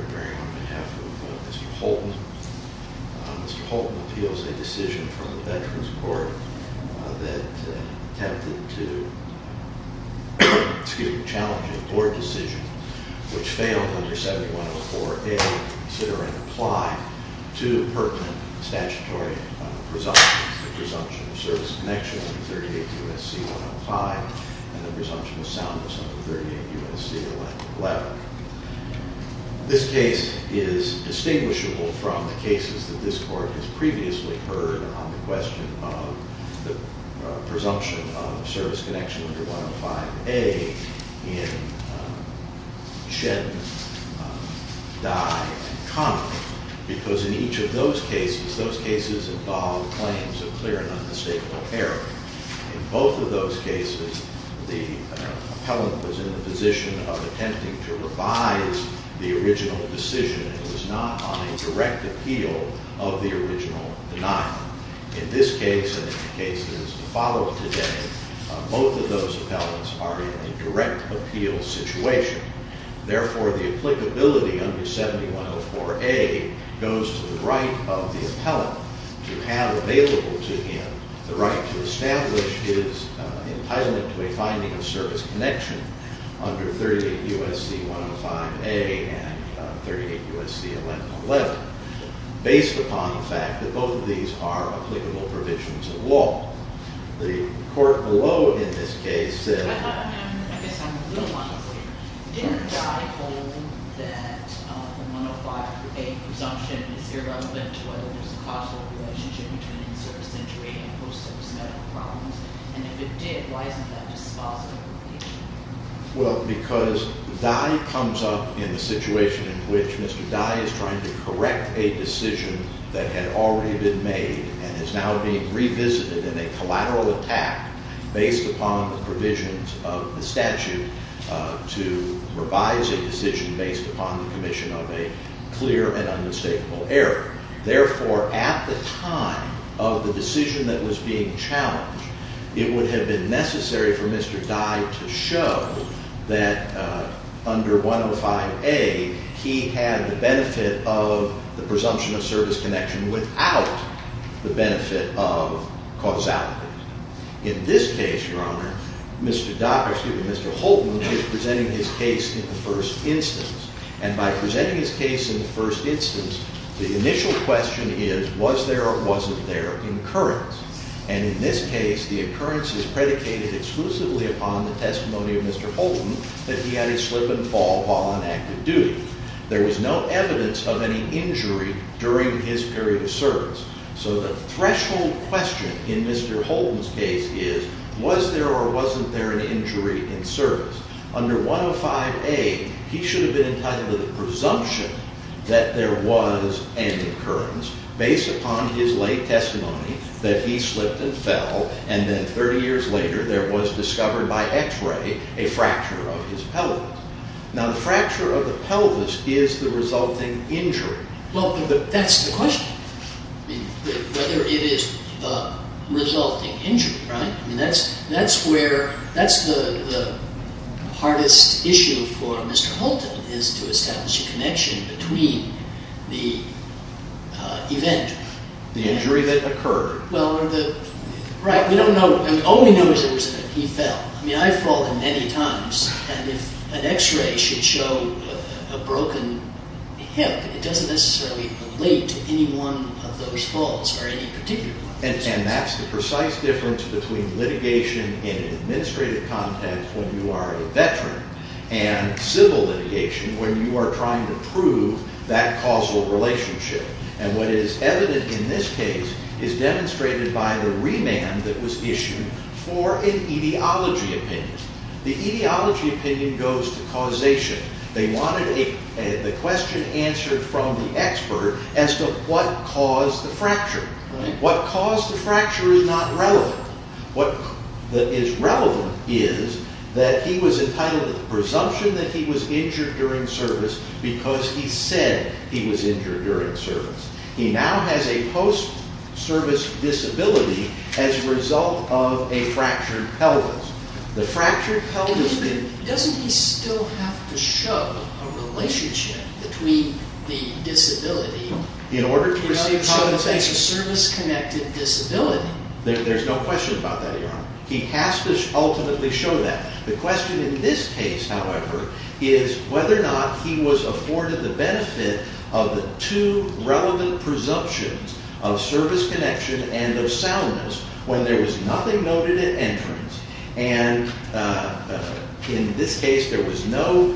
Doctorate in Kinesiology Kenneth Carpenter, on behalf of Mr. Holton, appeals a decision from the Veterans Court that attempted to challenge a board decision, which failed under 7104A, considering applying two pertinent statutory presumptions, the presumption of service connection under 38 U.S.C. 105, and the presumption of soundness under 38 U.S.C. 111. This case is distinguishable from the cases that this court has previously heard on the question of the presumption of service connection under 105A in Shedden, Dye, and Connelly, because in each of those cases, those cases involved claims of clear and unmistakable error. In both of those cases, the appellant was in the position of attempting to revise the original decision and was not on a direct appeal of the original denial. In this case and in the cases to follow today, both of those appellants are in a direct appeal situation. Therefore, the applicability under 7104A goes to the right of the appellant to have available to him the right to establish his entitlement to a finding of service connection under 38 U.S.C. 105A and 38 U.S.C. 111, based upon the fact that both of these are applicable provisions of law. The court below in this case said... I guess I'm a little unclear. Didn't Dye hold that the 105A presumption is irrelevant to whether there's a causal relationship between service entry and post-service medical problems? And if it did, why isn't that dispositive? Well, because Dye comes up in the situation in which Mr. Dye is trying to correct a decision that had already been made and is now being revisited in a collateral attack based upon the provisions of the statute to revise a decision based upon the commission of a clear and unmistakable error. Therefore, at the time of the decision that was being challenged, it would have been necessary for Mr. Dye to show that under 105A, he had the benefit of the presumption of service connection without the benefit of causality. In this case, Your Honor, Mr. Holton is presenting his case in the first instance. And by presenting his case in the first instance, the initial question is, was there or wasn't there an occurrence? And in this case, the occurrence is predicated exclusively upon the testimony of Mr. Holton that he had a slip and fall while on active duty. There was no evidence of any injury during his period of service. So the threshold question in Mr. Holton's case is, was there or wasn't there an injury in service? Under 105A, he should have been entitled to the presumption that there was an occurrence based upon his lay testimony that he slipped and fell. And then 30 years later, there was discovered by x-ray a fracture of his pelvis. Now, the fracture of the pelvis is the resulting injury. Well, but that's the question, whether it is the resulting injury, right? That's the hardest issue for Mr. Holton, is to establish a connection between the event. The injury that occurred. Right. We don't know. All we know is that he fell. I mean, I've fallen many times. And if an x-ray should show a broken hip, it doesn't necessarily relate to any one of those falls or any particular one. And that's the precise difference between litigation in an administrative context when you are a veteran and civil litigation when you are trying to prove that causal relationship. And what is evident in this case is demonstrated by the remand that was issued for an etiology opinion. The etiology opinion goes to causation. They wanted the question answered from the expert as to what caused the fracture. What caused the fracture is not relevant. What is relevant is that he was entitled to the presumption that he was injured during service because he said he was injured during service. He now has a post-service disability as a result of a fractured pelvis. The fractured pelvis... Doesn't he still have to show a relationship between the disability... So it's a service-connected disability. There's no question about that, Your Honor. He has to ultimately show that. The question in this case, however, is whether or not he was afforded the benefit of the two relevant presumptions of service connection In this case, there was no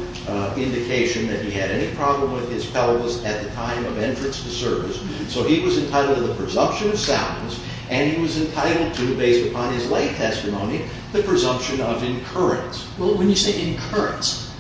indication that he had any problem with his pelvis at the time of entrance to service. So he was entitled to the presumption of soundness, and he was entitled to, based upon his lay testimony, the presumption of incurrence. When you say incurrence,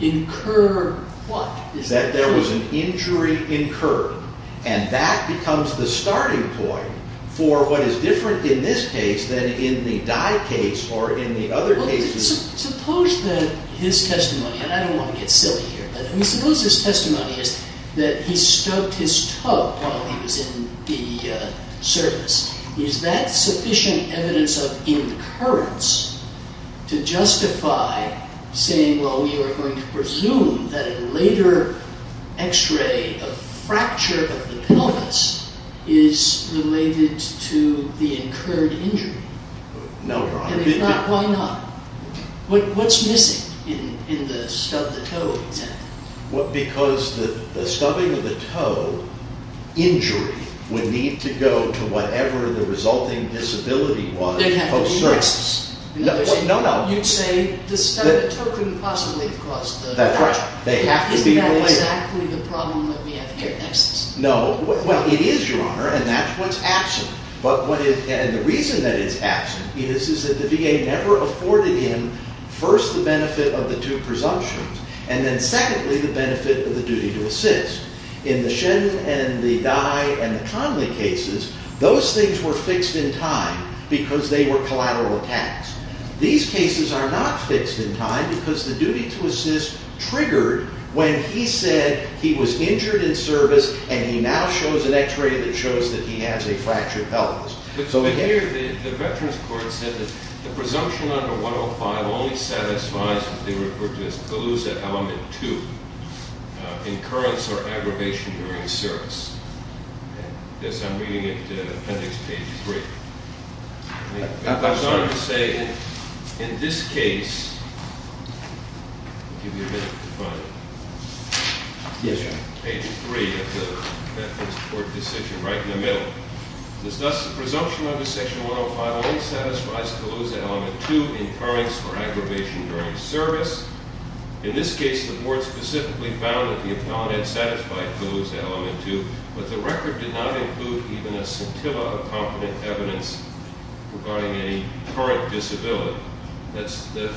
incur what? That there was an injury incurred. And that becomes the starting point for what is different in this case than in the Dye case or in the other cases... Suppose that his testimony, and I don't want to get silly here, but suppose his testimony is that he stubbed his toe while he was in the service. Is that sufficient evidence of incurrence to justify saying, well, we are going to presume that a later X-ray, a fracture of the pelvis, is related to the incurred injury? No, Your Honor. And if not, why not? What's missing in the stub the toe example? Because the stubbing of the toe injury would need to go to whatever the resulting disability was. It had to be license. No, no. You'd say the stubbing of the toe couldn't possibly have caused the fracture. That's right. They have to be related. Isn't that exactly the problem that we have here in excess? No. Well, it is, Your Honor, and that's what's absent. And the reason that it's absent is that the VA never afforded him, first, the benefit of the two presumptions, and then, secondly, the benefit of the duty to assist. In the Shin and the Dye and the Conley cases, those things were fixed in time because they were collateral attacks. These cases are not fixed in time because the duty to assist triggered when he said he was injured in service and he now shows an X-ray that shows that he has a fractured pelvis. But here, the Veterans Court said that the presumption under 105 only satisfies what they refer to as Calusa Element 2, incurrence or aggravation during service. This I'm reading at Appendix Page 3. It goes on to say, in this case, I'll give you a minute to find it. Yes, Your Honor. Page 3 of the Veterans Court decision, right in the middle. Thus, the presumption under Section 105 only satisfies Calusa Element 2, incurrence or aggravation during service. In this case, the board specifically found that the appellant had satisfied Calusa Element 2, but the record did not include even a scintilla of competent evidence regarding a current disability. The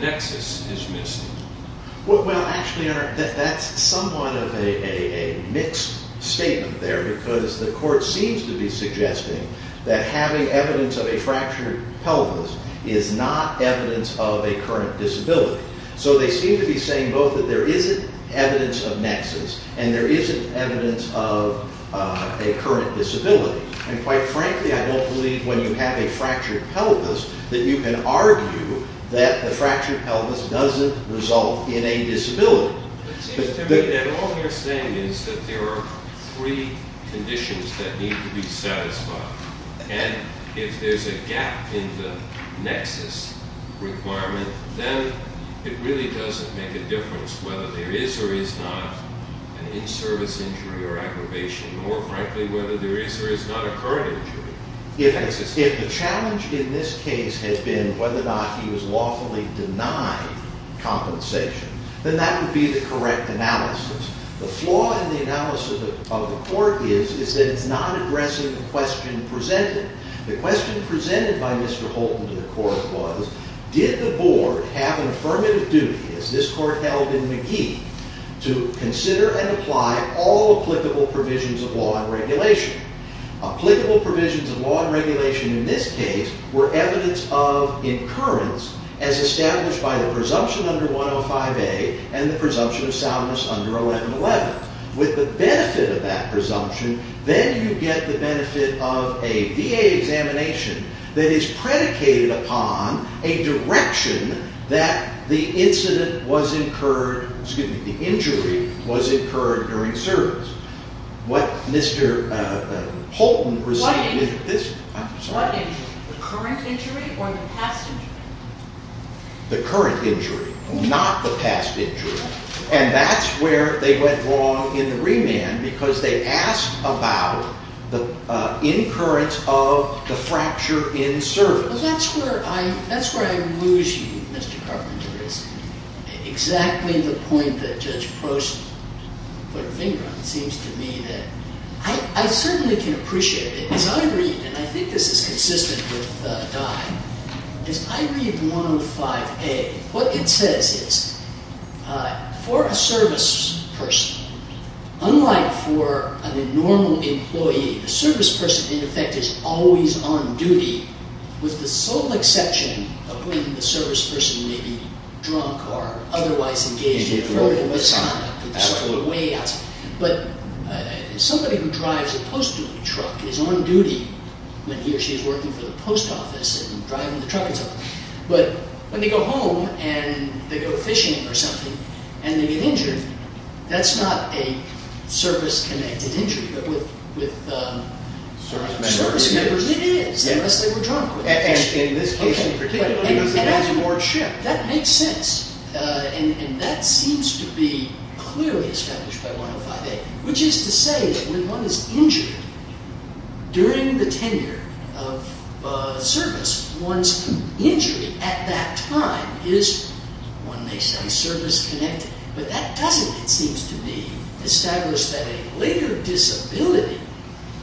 nexus is missing. Well, actually, Your Honor, that's somewhat of a mixed statement there because the court seems to be suggesting that having evidence of a fractured pelvis is not evidence of a current disability. So they seem to be saying both that there isn't evidence of nexus and there isn't evidence of a current disability. And quite frankly, I don't believe when you have a fractured pelvis that you can argue that the fractured pelvis doesn't result in a disability. It seems to me that all they're saying is that there are three conditions that need to be satisfied. And if there's a gap in the nexus requirement, then it really doesn't make a difference whether there is or is not an in-service injury or aggravation. More frankly, whether there is or is not a current injury. If the challenge in this case had been whether or not he was lawfully denied compensation, then that would be the correct analysis. The flaw in the analysis of the court is that it's not addressing the question presented. The question presented by Mr. Holton to the court was, did the board have an affirmative duty, as this court held in McGee, to consider and apply all applicable provisions of law and regulation? Applicable provisions of law and regulation in this case were evidence of incurrence, as established by the presumption under 105A and the presumption of soundness under 111. With the benefit of that presumption, then you get the benefit of a VA examination that is predicated upon a direction that the incident was incurred, excuse me, the injury was incurred during service. What Mr. Holton received is this. What injury? The current injury or the past injury? The current injury, not the past injury. And that's where they went wrong in the remand, because they asked about the incurrence of the fracture in service. That's where I lose you, Mr. Carpenter. It's exactly the point that Judge Prost put her finger on. It seems to me that I certainly can appreciate it. As I read, and I think this is consistent with Dye, as I read 105A, what it says is, for a service person, unlike for a normal employee, a service person, in effect, is always on duty, with the sole exception of when the service person may be drunk or otherwise engaged in a fraudulent business. Absolutely. But somebody who drives a post-duty truck is on duty when he or she is working for the post office and driving the truck and stuff. But when they go home and they go fishing or something, and they get injured, that's not a service-connected injury. But with service members, it is, unless they were drunk with them. And in this case in particular, it was a large ship. That makes sense, and that seems to be clearly established by 105A, which is to say that when one is injured during the tenure of service, one's injury at that time is, one may say, service-connected. But that doesn't, it seems to me, establish that a later disability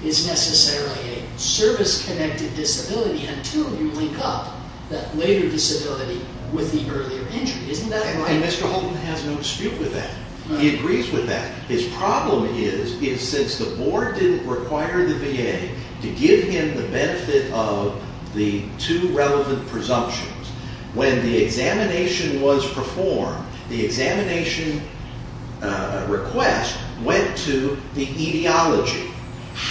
is necessarily a service-connected disability until you link up that later disability with the earlier injury. Isn't that right? And Mr. Holton has no dispute with that. He agrees with that. His problem is, is since the board didn't require the VA to give him the benefit of the two relevant presumptions, when the examination was performed, the examination request went to the etiology.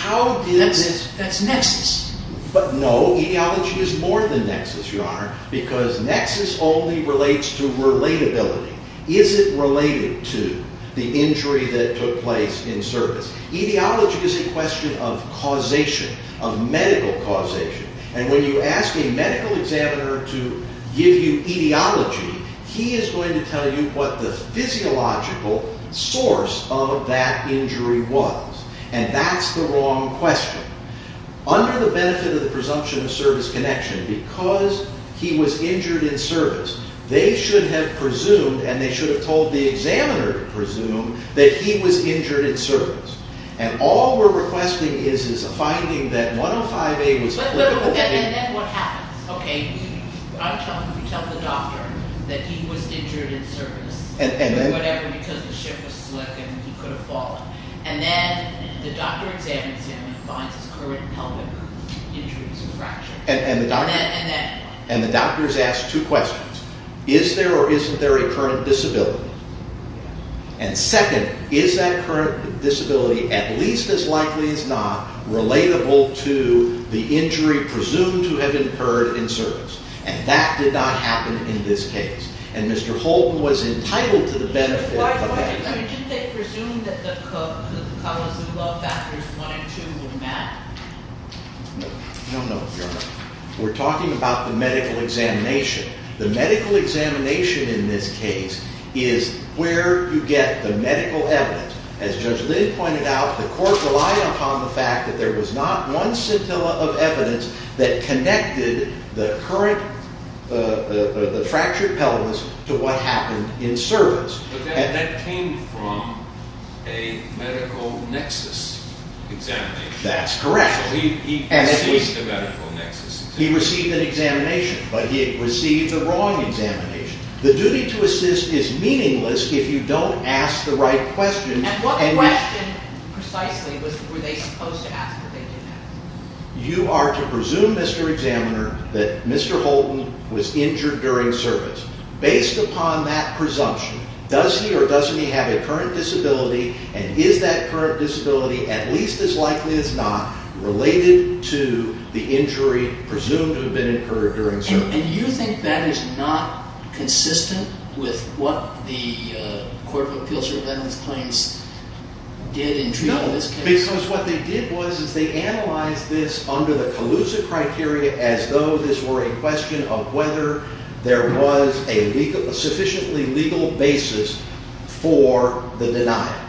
That's nexus. But no, etiology is more than nexus, Your Honor, because nexus only relates to relatability. Is it related to the injury that took place in service? Etiology is a question of causation, of medical causation. And when you ask a medical examiner to give you etiology, he is going to tell you what the physiological source of that injury was. And that's the wrong question. Under the benefit of the presumption of service connection, because he was injured in service, they should have presumed, and they should have told the examiner to presume, that he was injured in service. And all we're requesting is a finding that 105A was politically... And then what happens? Okay, we tell the doctor that he was injured in service, or whatever, because the ship was slick and he could have fallen. And then the doctor examines him and finds his current pelvic injuries are fractured. And the doctors ask two questions. Is there or isn't there a current disability? And second, is that current disability, at least as likely as not, relatable to the injury presumed to have occurred in service? And that did not happen in this case. And Mr. Holton was entitled to the benefit of that. But why didn't they presume that the colors and blood factors 1 and 2 were met? No, no, no, Your Honor. We're talking about the medical examination. The medical examination in this case is where you get the medical evidence. As Judge Lynn pointed out, the court relied upon the fact that there was not one scintilla of evidence that connected the fractured pelvis to what happened in service. But that came from a medical nexus examination. That's correct. So he received a medical nexus examination. He received an examination, but he received the wrong examination. The duty to assist is meaningless if you don't ask the right question. And what question precisely were they supposed to ask that they didn't ask? You are to presume, Mr. Examiner, that Mr. Holton was injured during service. Based upon that presumption, does he or doesn't he have a current disability, and is that current disability, at least as likely as not, related to the injury presumed to have been incurred during service? And you think that is not consistent with what the Court of Appeals or Leonard's claims did in treating this case? No, because what they did was is they analyzed this under the Calusa criteria as though this were a question of whether there was a sufficiently legal basis for the denial.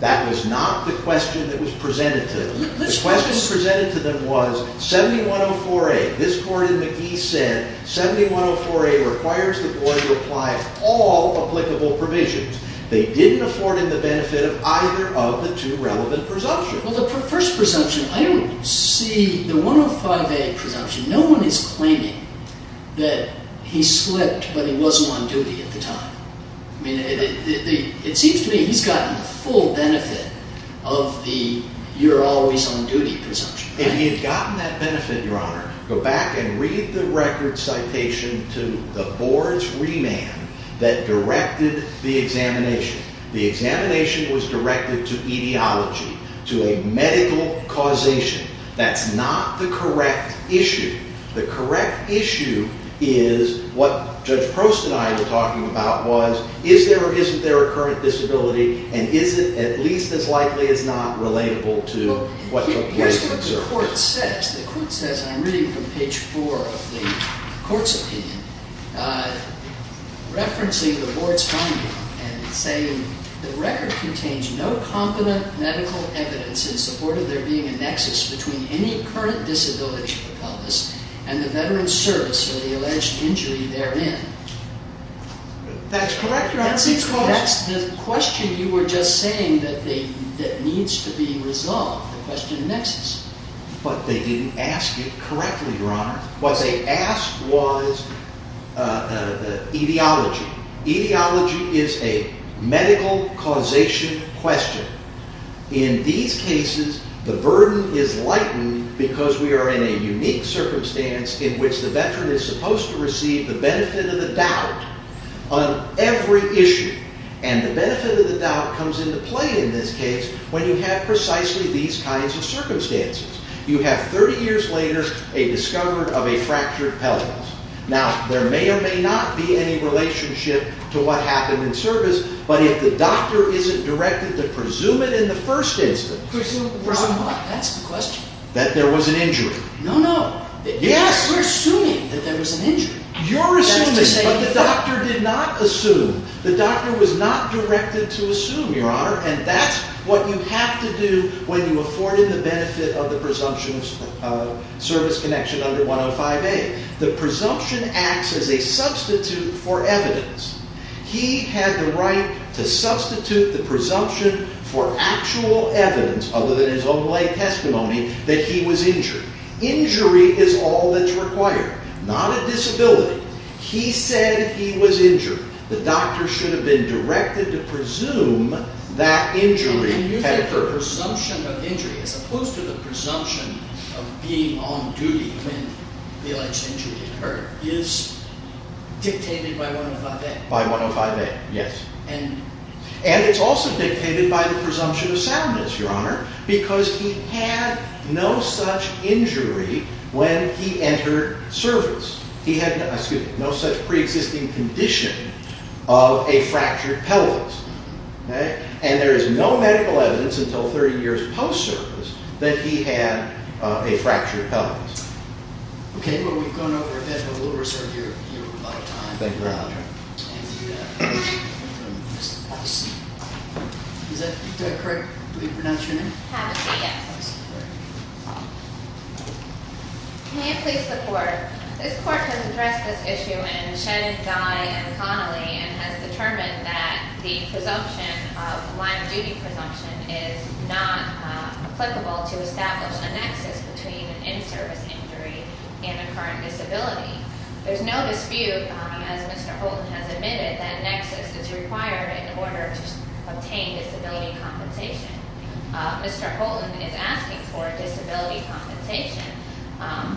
That was not the question that was presented to them. The question presented to them was 7104A. This court in McGee said 7104A requires the court to apply all applicable provisions. They didn't afford him the benefit of either of the two relevant presumptions. Well, the first presumption, I don't see the 105A presumption. No one is claiming that he slipped, but he wasn't on duty at the time. It seems to me he's gotten the full benefit of the you're always on duty presumption. If he had gotten that benefit, Your Honor, go back and read the record citation to the board's remand that directed the examination. The examination was directed to etiology, to a medical causation. That's not the correct issue. The correct issue is what Judge Prost and I were talking about, was is there or isn't there a current disability, and is it at least as likely as not relatable to what took place? Here's what the court says. The court says, and I'm reading from page four of the court's opinion, referencing the board's finding and saying, the record contains no confident medical evidence in support of there being a nexus between any current disability of the pelvis and the veteran's service or the alleged injury therein. That's correct, Your Honor. That's the question you were just saying that needs to be resolved, the question of nexus. But they didn't ask it correctly, Your Honor. What they asked was etiology. Etiology is a medical causation question. In these cases, the burden is lightened because we are in a unique circumstance in which the veteran is supposed to receive the benefit of the doubt on every issue. And the benefit of the doubt comes into play in this case when you have precisely these kinds of circumstances. You have 30 years later a discovery of a fractured pelvis. Now, there may or may not be any relationship to what happened in service, but if the doctor isn't directed to presume it in the first instance. Presume what? That's the question. That there was an injury. No, no. Yes. We're assuming that there was an injury. You're assuming, but the doctor did not assume. The doctor was not directed to assume, Your Honor, and that's what you have to do when you afforded the benefit of the presumption of service connection under 105A. The presumption acts as a substitute for evidence. He had the right to substitute the presumption for actual evidence, other than his own late testimony, that he was injured. Injury is all that's required, not a disability. He said he was injured. The doctor should have been directed to presume that injury had occurred. And you think the presumption of injury, as opposed to the presumption of being on duty when the alleged injury occurred, is dictated by 105A. By 105A, yes. And it's also dictated by the presumption of soundness, Your Honor, because he had no such injury when he entered service. He had no such preexisting condition of a fractured pelvis. And there is no medical evidence until 30 years post-service that he had a fractured pelvis. Okay, well, we've gone over a bit, but we'll reserve your lifetime. Thank you, Your Honor. Is that correct? Did we pronounce your name? Havissey, yes. May I please report? This Court has addressed this issue in Shen, Guy, and Connolly, and has determined that the presumption of line of duty presumption is not applicable to establish a nexus between an in-service injury and a current disability. There's no dispute, as Mr. Holden has admitted, that a nexus is required in order to obtain disability compensation. Mr. Holden is asking for disability compensation.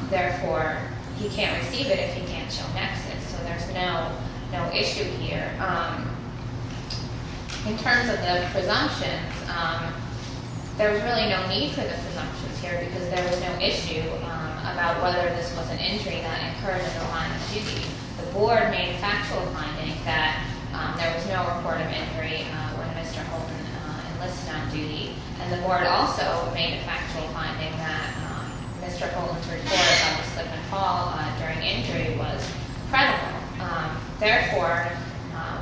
Therefore, he can't receive it if he can't show nexus. So there's no issue here. In terms of the presumptions, there's really no need for the presumptions here because there was no issue about whether this was an injury that occurred in the line of duty. The Board made a factual finding that there was no report of injury when Mr. Holden enlisted on duty, and the Board also made a factual finding that Mr. Holden's report of a slip and fall during injury was credible. Therefore,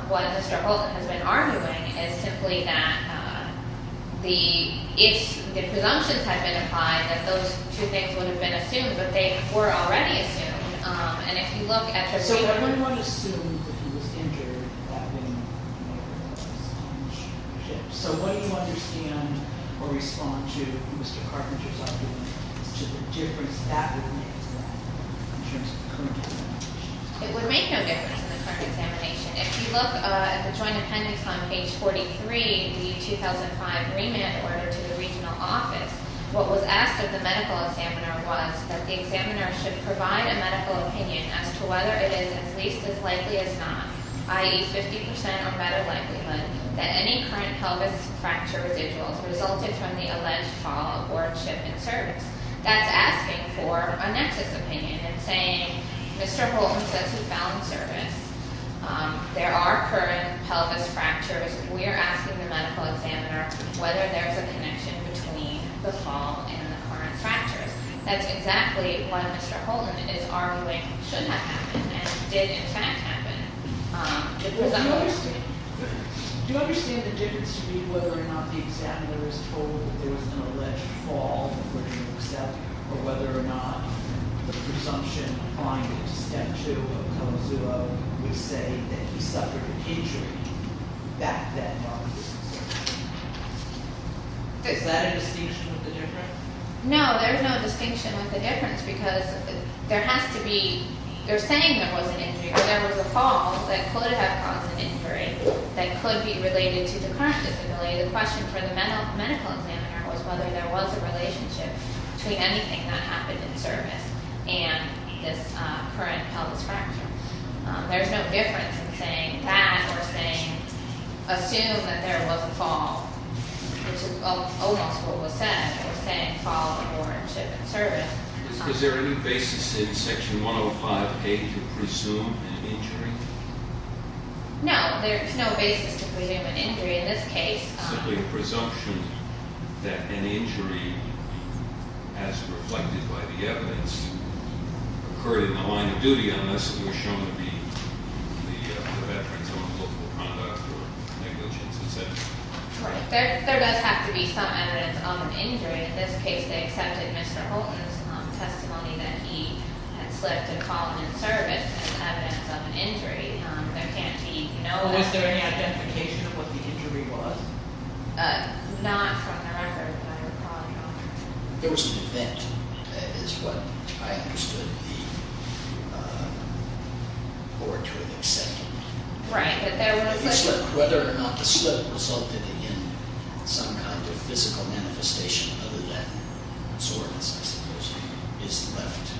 what Mr. Holden has been arguing is simply that the presumptions had been applied, that those two things would have been assumed, but they were already assumed. And if you look at the statement... So everyone assumes that he was injured that day when he was on the ship. So what do you understand or respond to Mr. Carpenter's argument as to the difference that would make in terms of the current situation? It would make no difference in the current examination. If you look at the joint appendix on page 43, the 2005 remand order to the regional office, what was asked of the medical examiner was that the examiner should provide a medical opinion as to whether it is at least as likely as not, i.e., 50% or better likelihood, that any current pelvis fracture residuals resulted from the alleged fall aboard ship in service. That's asking for a nexus opinion and saying, Mr. Holden says he fell in service. There are current pelvis fractures. We are asking the medical examiner whether there is a connection between the fall and the current fractures. That's exactly what Mr. Holden is arguing should have happened and did, in fact, happen. Do you understand the difference between whether or not the examiner is told that there was an alleged fall and for him to accept or whether or not the presumption binding to step 2 of KOMAZUO would say that he suffered an injury back then while he was in service? Is that a distinction with the difference? No, there is no distinction with the difference because there has to be they're saying there was an injury, but there was a fall that could have caused an injury that could be related to the current disability. The question for the medical examiner was whether there was a relationship between anything that happened in service and this current pelvis fracture. There's no difference in saying that or saying assume that there was a fall, which is almost what was said, or saying fall aboard ship in service. Is there any basis in Section 105A to presume an injury? No, there is no basis to presume an injury. It's simply a presumption that an injury, as reflected by the evidence, occurred in the line of duty unless it was shown to be the veterans on political conduct or negligence, et cetera. There does have to be some evidence of an injury. In this case, they accepted Mr. Holton's testimony that he had slipped a column in service as evidence of an injury. Was there any identification of what the injury was? Not from the record, but I would probably know. There was an event, is what I understood the board to have accepted. Whether or not the slip resulted in some kind of physical manifestation other than soreness, I suppose, is left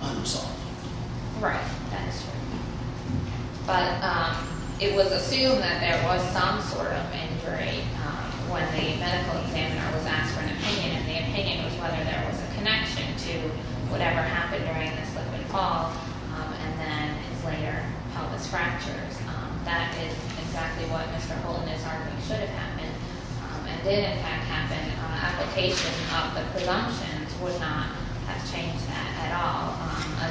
unresolved. Right, that is true. But it was assumed that there was some sort of injury when the medical examiner was asked for an opinion, and the opinion was whether there was a connection to whatever happened during the slip and fall and then his later pelvis fractures. That is exactly what Mr. Holton is arguing should have happened and did, in fact, happen. An application of the presumptions would not have changed that at all.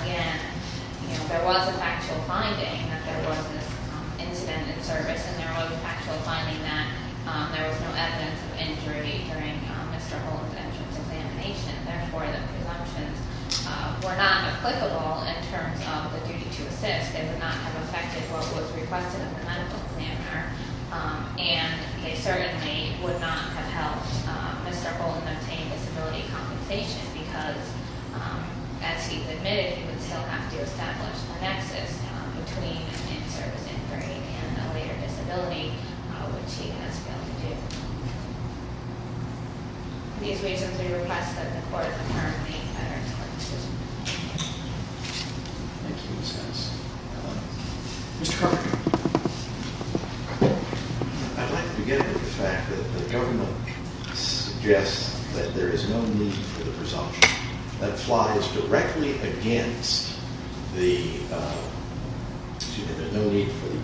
Again, there was a factual finding that there was this incident in service, and there was a factual finding that there was no evidence of injury during Mr. Holton's entrance examination. Therefore, the presumptions were not applicable in terms of the duty to assist. They would not have affected what was requested of the medical examiner, and they certainly would not have helped Mr. Holton obtain disability compensation because, as he has admitted, he would still have to establish a nexus between an in-service injury and a later disability, which he has failed to do. For these reasons, we request that the Court affirm the veterans court decision. Thank you, Ms. Hess. Mr. Carter. I'd like to begin with the fact that the government suggests that there is no need for the presumption. That flies directly against the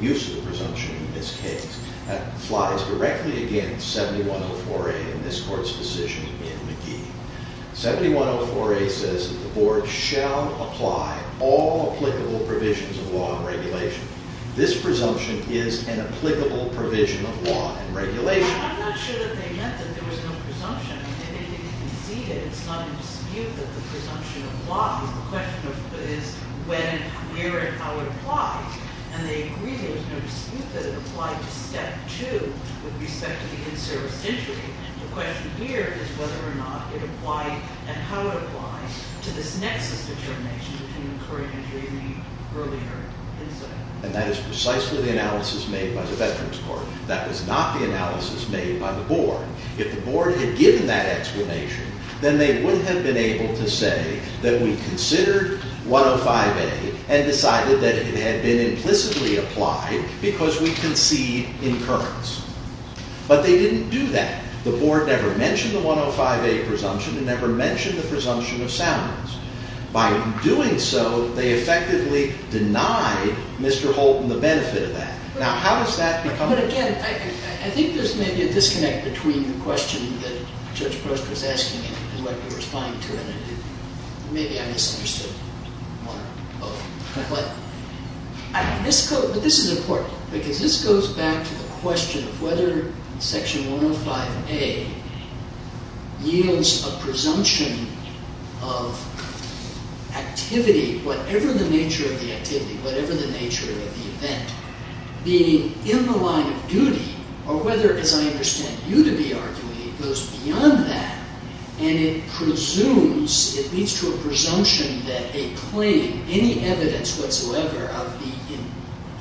use of the presumption in this case. That flies directly against 7104A in this Court's decision in McGee. 7104A says that the Board shall apply all applicable provisions of law and regulation. This presumption is an applicable provision of law and regulation. I'm not sure that they meant that there was no presumption. It's not in dispute that the presumption applies. The question is when, where, and how it applies. And they agree there's no dispute that it applied to Step 2 with respect to the in-service injury. The question here is whether or not it applied and how it applies to this nexus determination between the current injury and the earlier incident. And that is precisely the analysis made by the veterans court. That was not the analysis made by the Board. If the Board had given that explanation, then they would have been able to say that we considered 105A and decided that it had been implicitly applied because we concede incurrence. But they didn't do that. The Board never mentioned the 105A presumption. It never mentioned the presumption of soundness. By doing so, they effectively denied Mr. Holton the benefit of that. Now, how does that become... But again, I think there's maybe a disconnect between the question that Judge Prost was asking and what you're responding to. And maybe I misunderstood one or both. But this is important because this goes back to the question of whether Section 105A yields a presumption of activity, whatever the nature of the activity, whatever the nature of the event, being in the line of duty, or whether, as I understand you to be arguing, it goes beyond that and it presumes, it leads to a presumption that a claim, any evidence whatsoever of the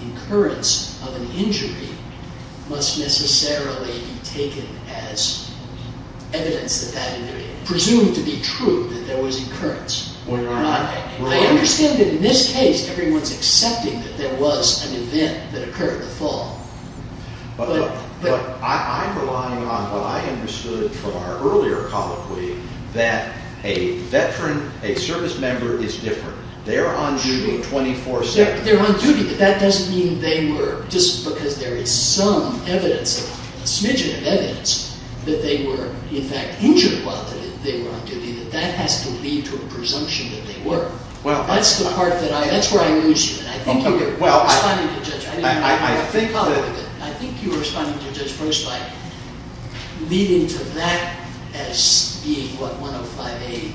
incurrence of an injury must necessarily be taken as evidence that that injury... presumed to be true that there was incurrence. I understand that in this case, everyone's accepting that there was an event that occurred in the fall. But I'm relying on what I understood from our earlier colloquy that a veteran, a service member, is different. They're on duty 24 seconds. They're on duty, but that doesn't mean they were, just because there is some evidence, a smidgen of evidence, that they were, in fact, injured while they were on duty, that that has to lead to a presumption that they were. That's the part that I, that's where I lose you. And I think you were responding to Judge... I think that... I think you were responding to Judge Bernstein, leading to that as being what 105A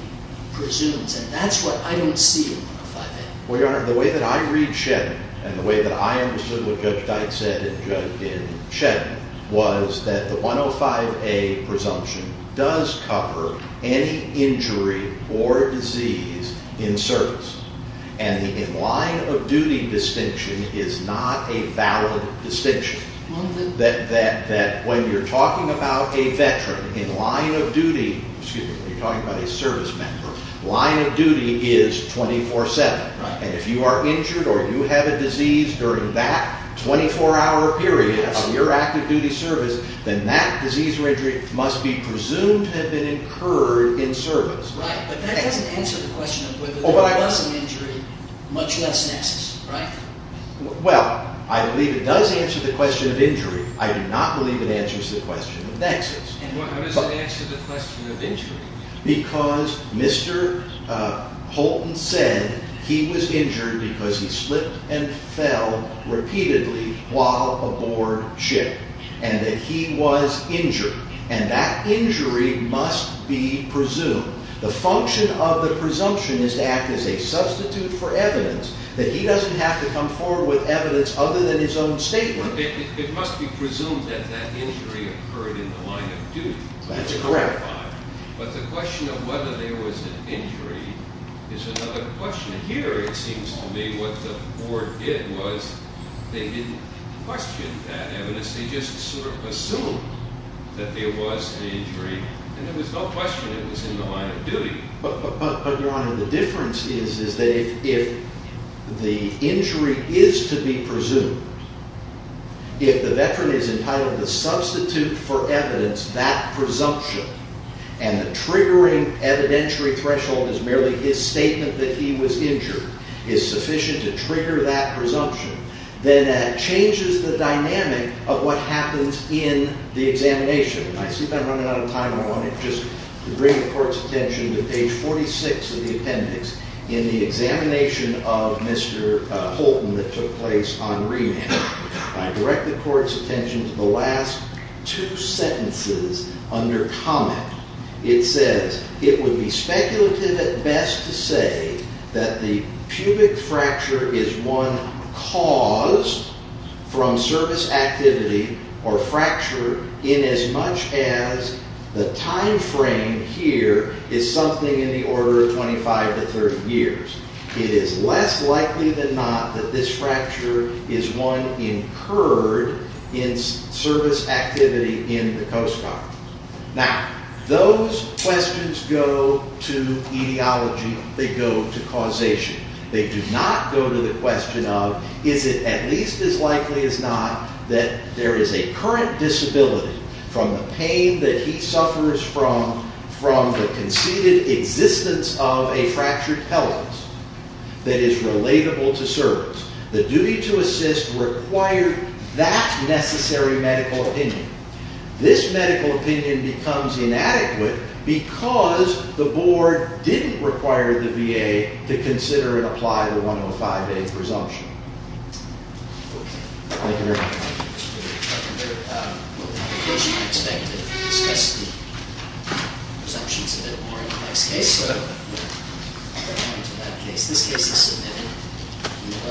presumes, and that's what I don't see in 105A. Well, Your Honor, the way that I read Chetton, and the way that I understood what Judge Dyke said in Chetton, was that the 105A presumption does cover any injury or disease in service. And the in-line-of-duty distinction is not a valid distinction. That when you're talking about a veteran in line of duty, excuse me, when you're talking about a service member, line of duty is 24-7. And if you are injured or you have a disease during that 24-hour period of your active duty service, then that disease or injury must be presumed to have been incurred in service. Right, but that doesn't answer the question of whether there was an injury, much less nexus, right? Well, I believe it does answer the question of injury. I do not believe it answers the question of nexus. Why does it answer the question of injury? Because Mr. Holton said he was injured because he slipped and fell repeatedly while aboard ship, and that he was injured. And that injury must be presumed. The function of the presumption is to act as a substitute for evidence, that he doesn't have to come forward with evidence other than his own statement. It must be presumed that that injury occurred in the line of duty. That's correct. But the question of whether there was an injury is another question. And here it seems to me what the board did was they didn't question that evidence. They just sort of assumed that there was an injury. And there was no question it was in the line of duty. But, Your Honor, the difference is that if the injury is to be presumed, if the veteran is entitled to substitute for evidence, that presumption, and the triggering evidentiary threshold is merely his statement that he was injured, is sufficient to trigger that presumption, then that changes the dynamic of what happens in the examination. And I see that I'm running out of time. I wanted just to bring the Court's attention to page 46 of the appendix in the examination of Mr. Holton that took place on remand. I direct the Court's attention to the last two sentences under comment. It says, It would be speculative at best to say that the pubic fracture is one caused from service activity or fracture inasmuch as the time frame here is something in the order of 25 to 30 years. It is less likely than not that this fracture is one incurred in service activity in the Coast Guard. Now, those questions go to etiology. They go to causation. They do not go to the question of is it at least as likely as not that there is a current disability from the pain that he suffers from the conceded existence of a fractured pelvis that is relatable to service. The duty to assist required that necessary medical opinion. This medical opinion becomes inadequate because the Board didn't require the VA to consider and apply the 105A presumption. Thank you very much. Mr. Chairman, I would like to close your expected and discuss the presumptions a bit more in the next case. So, we're moving on to that case. This case is submitted.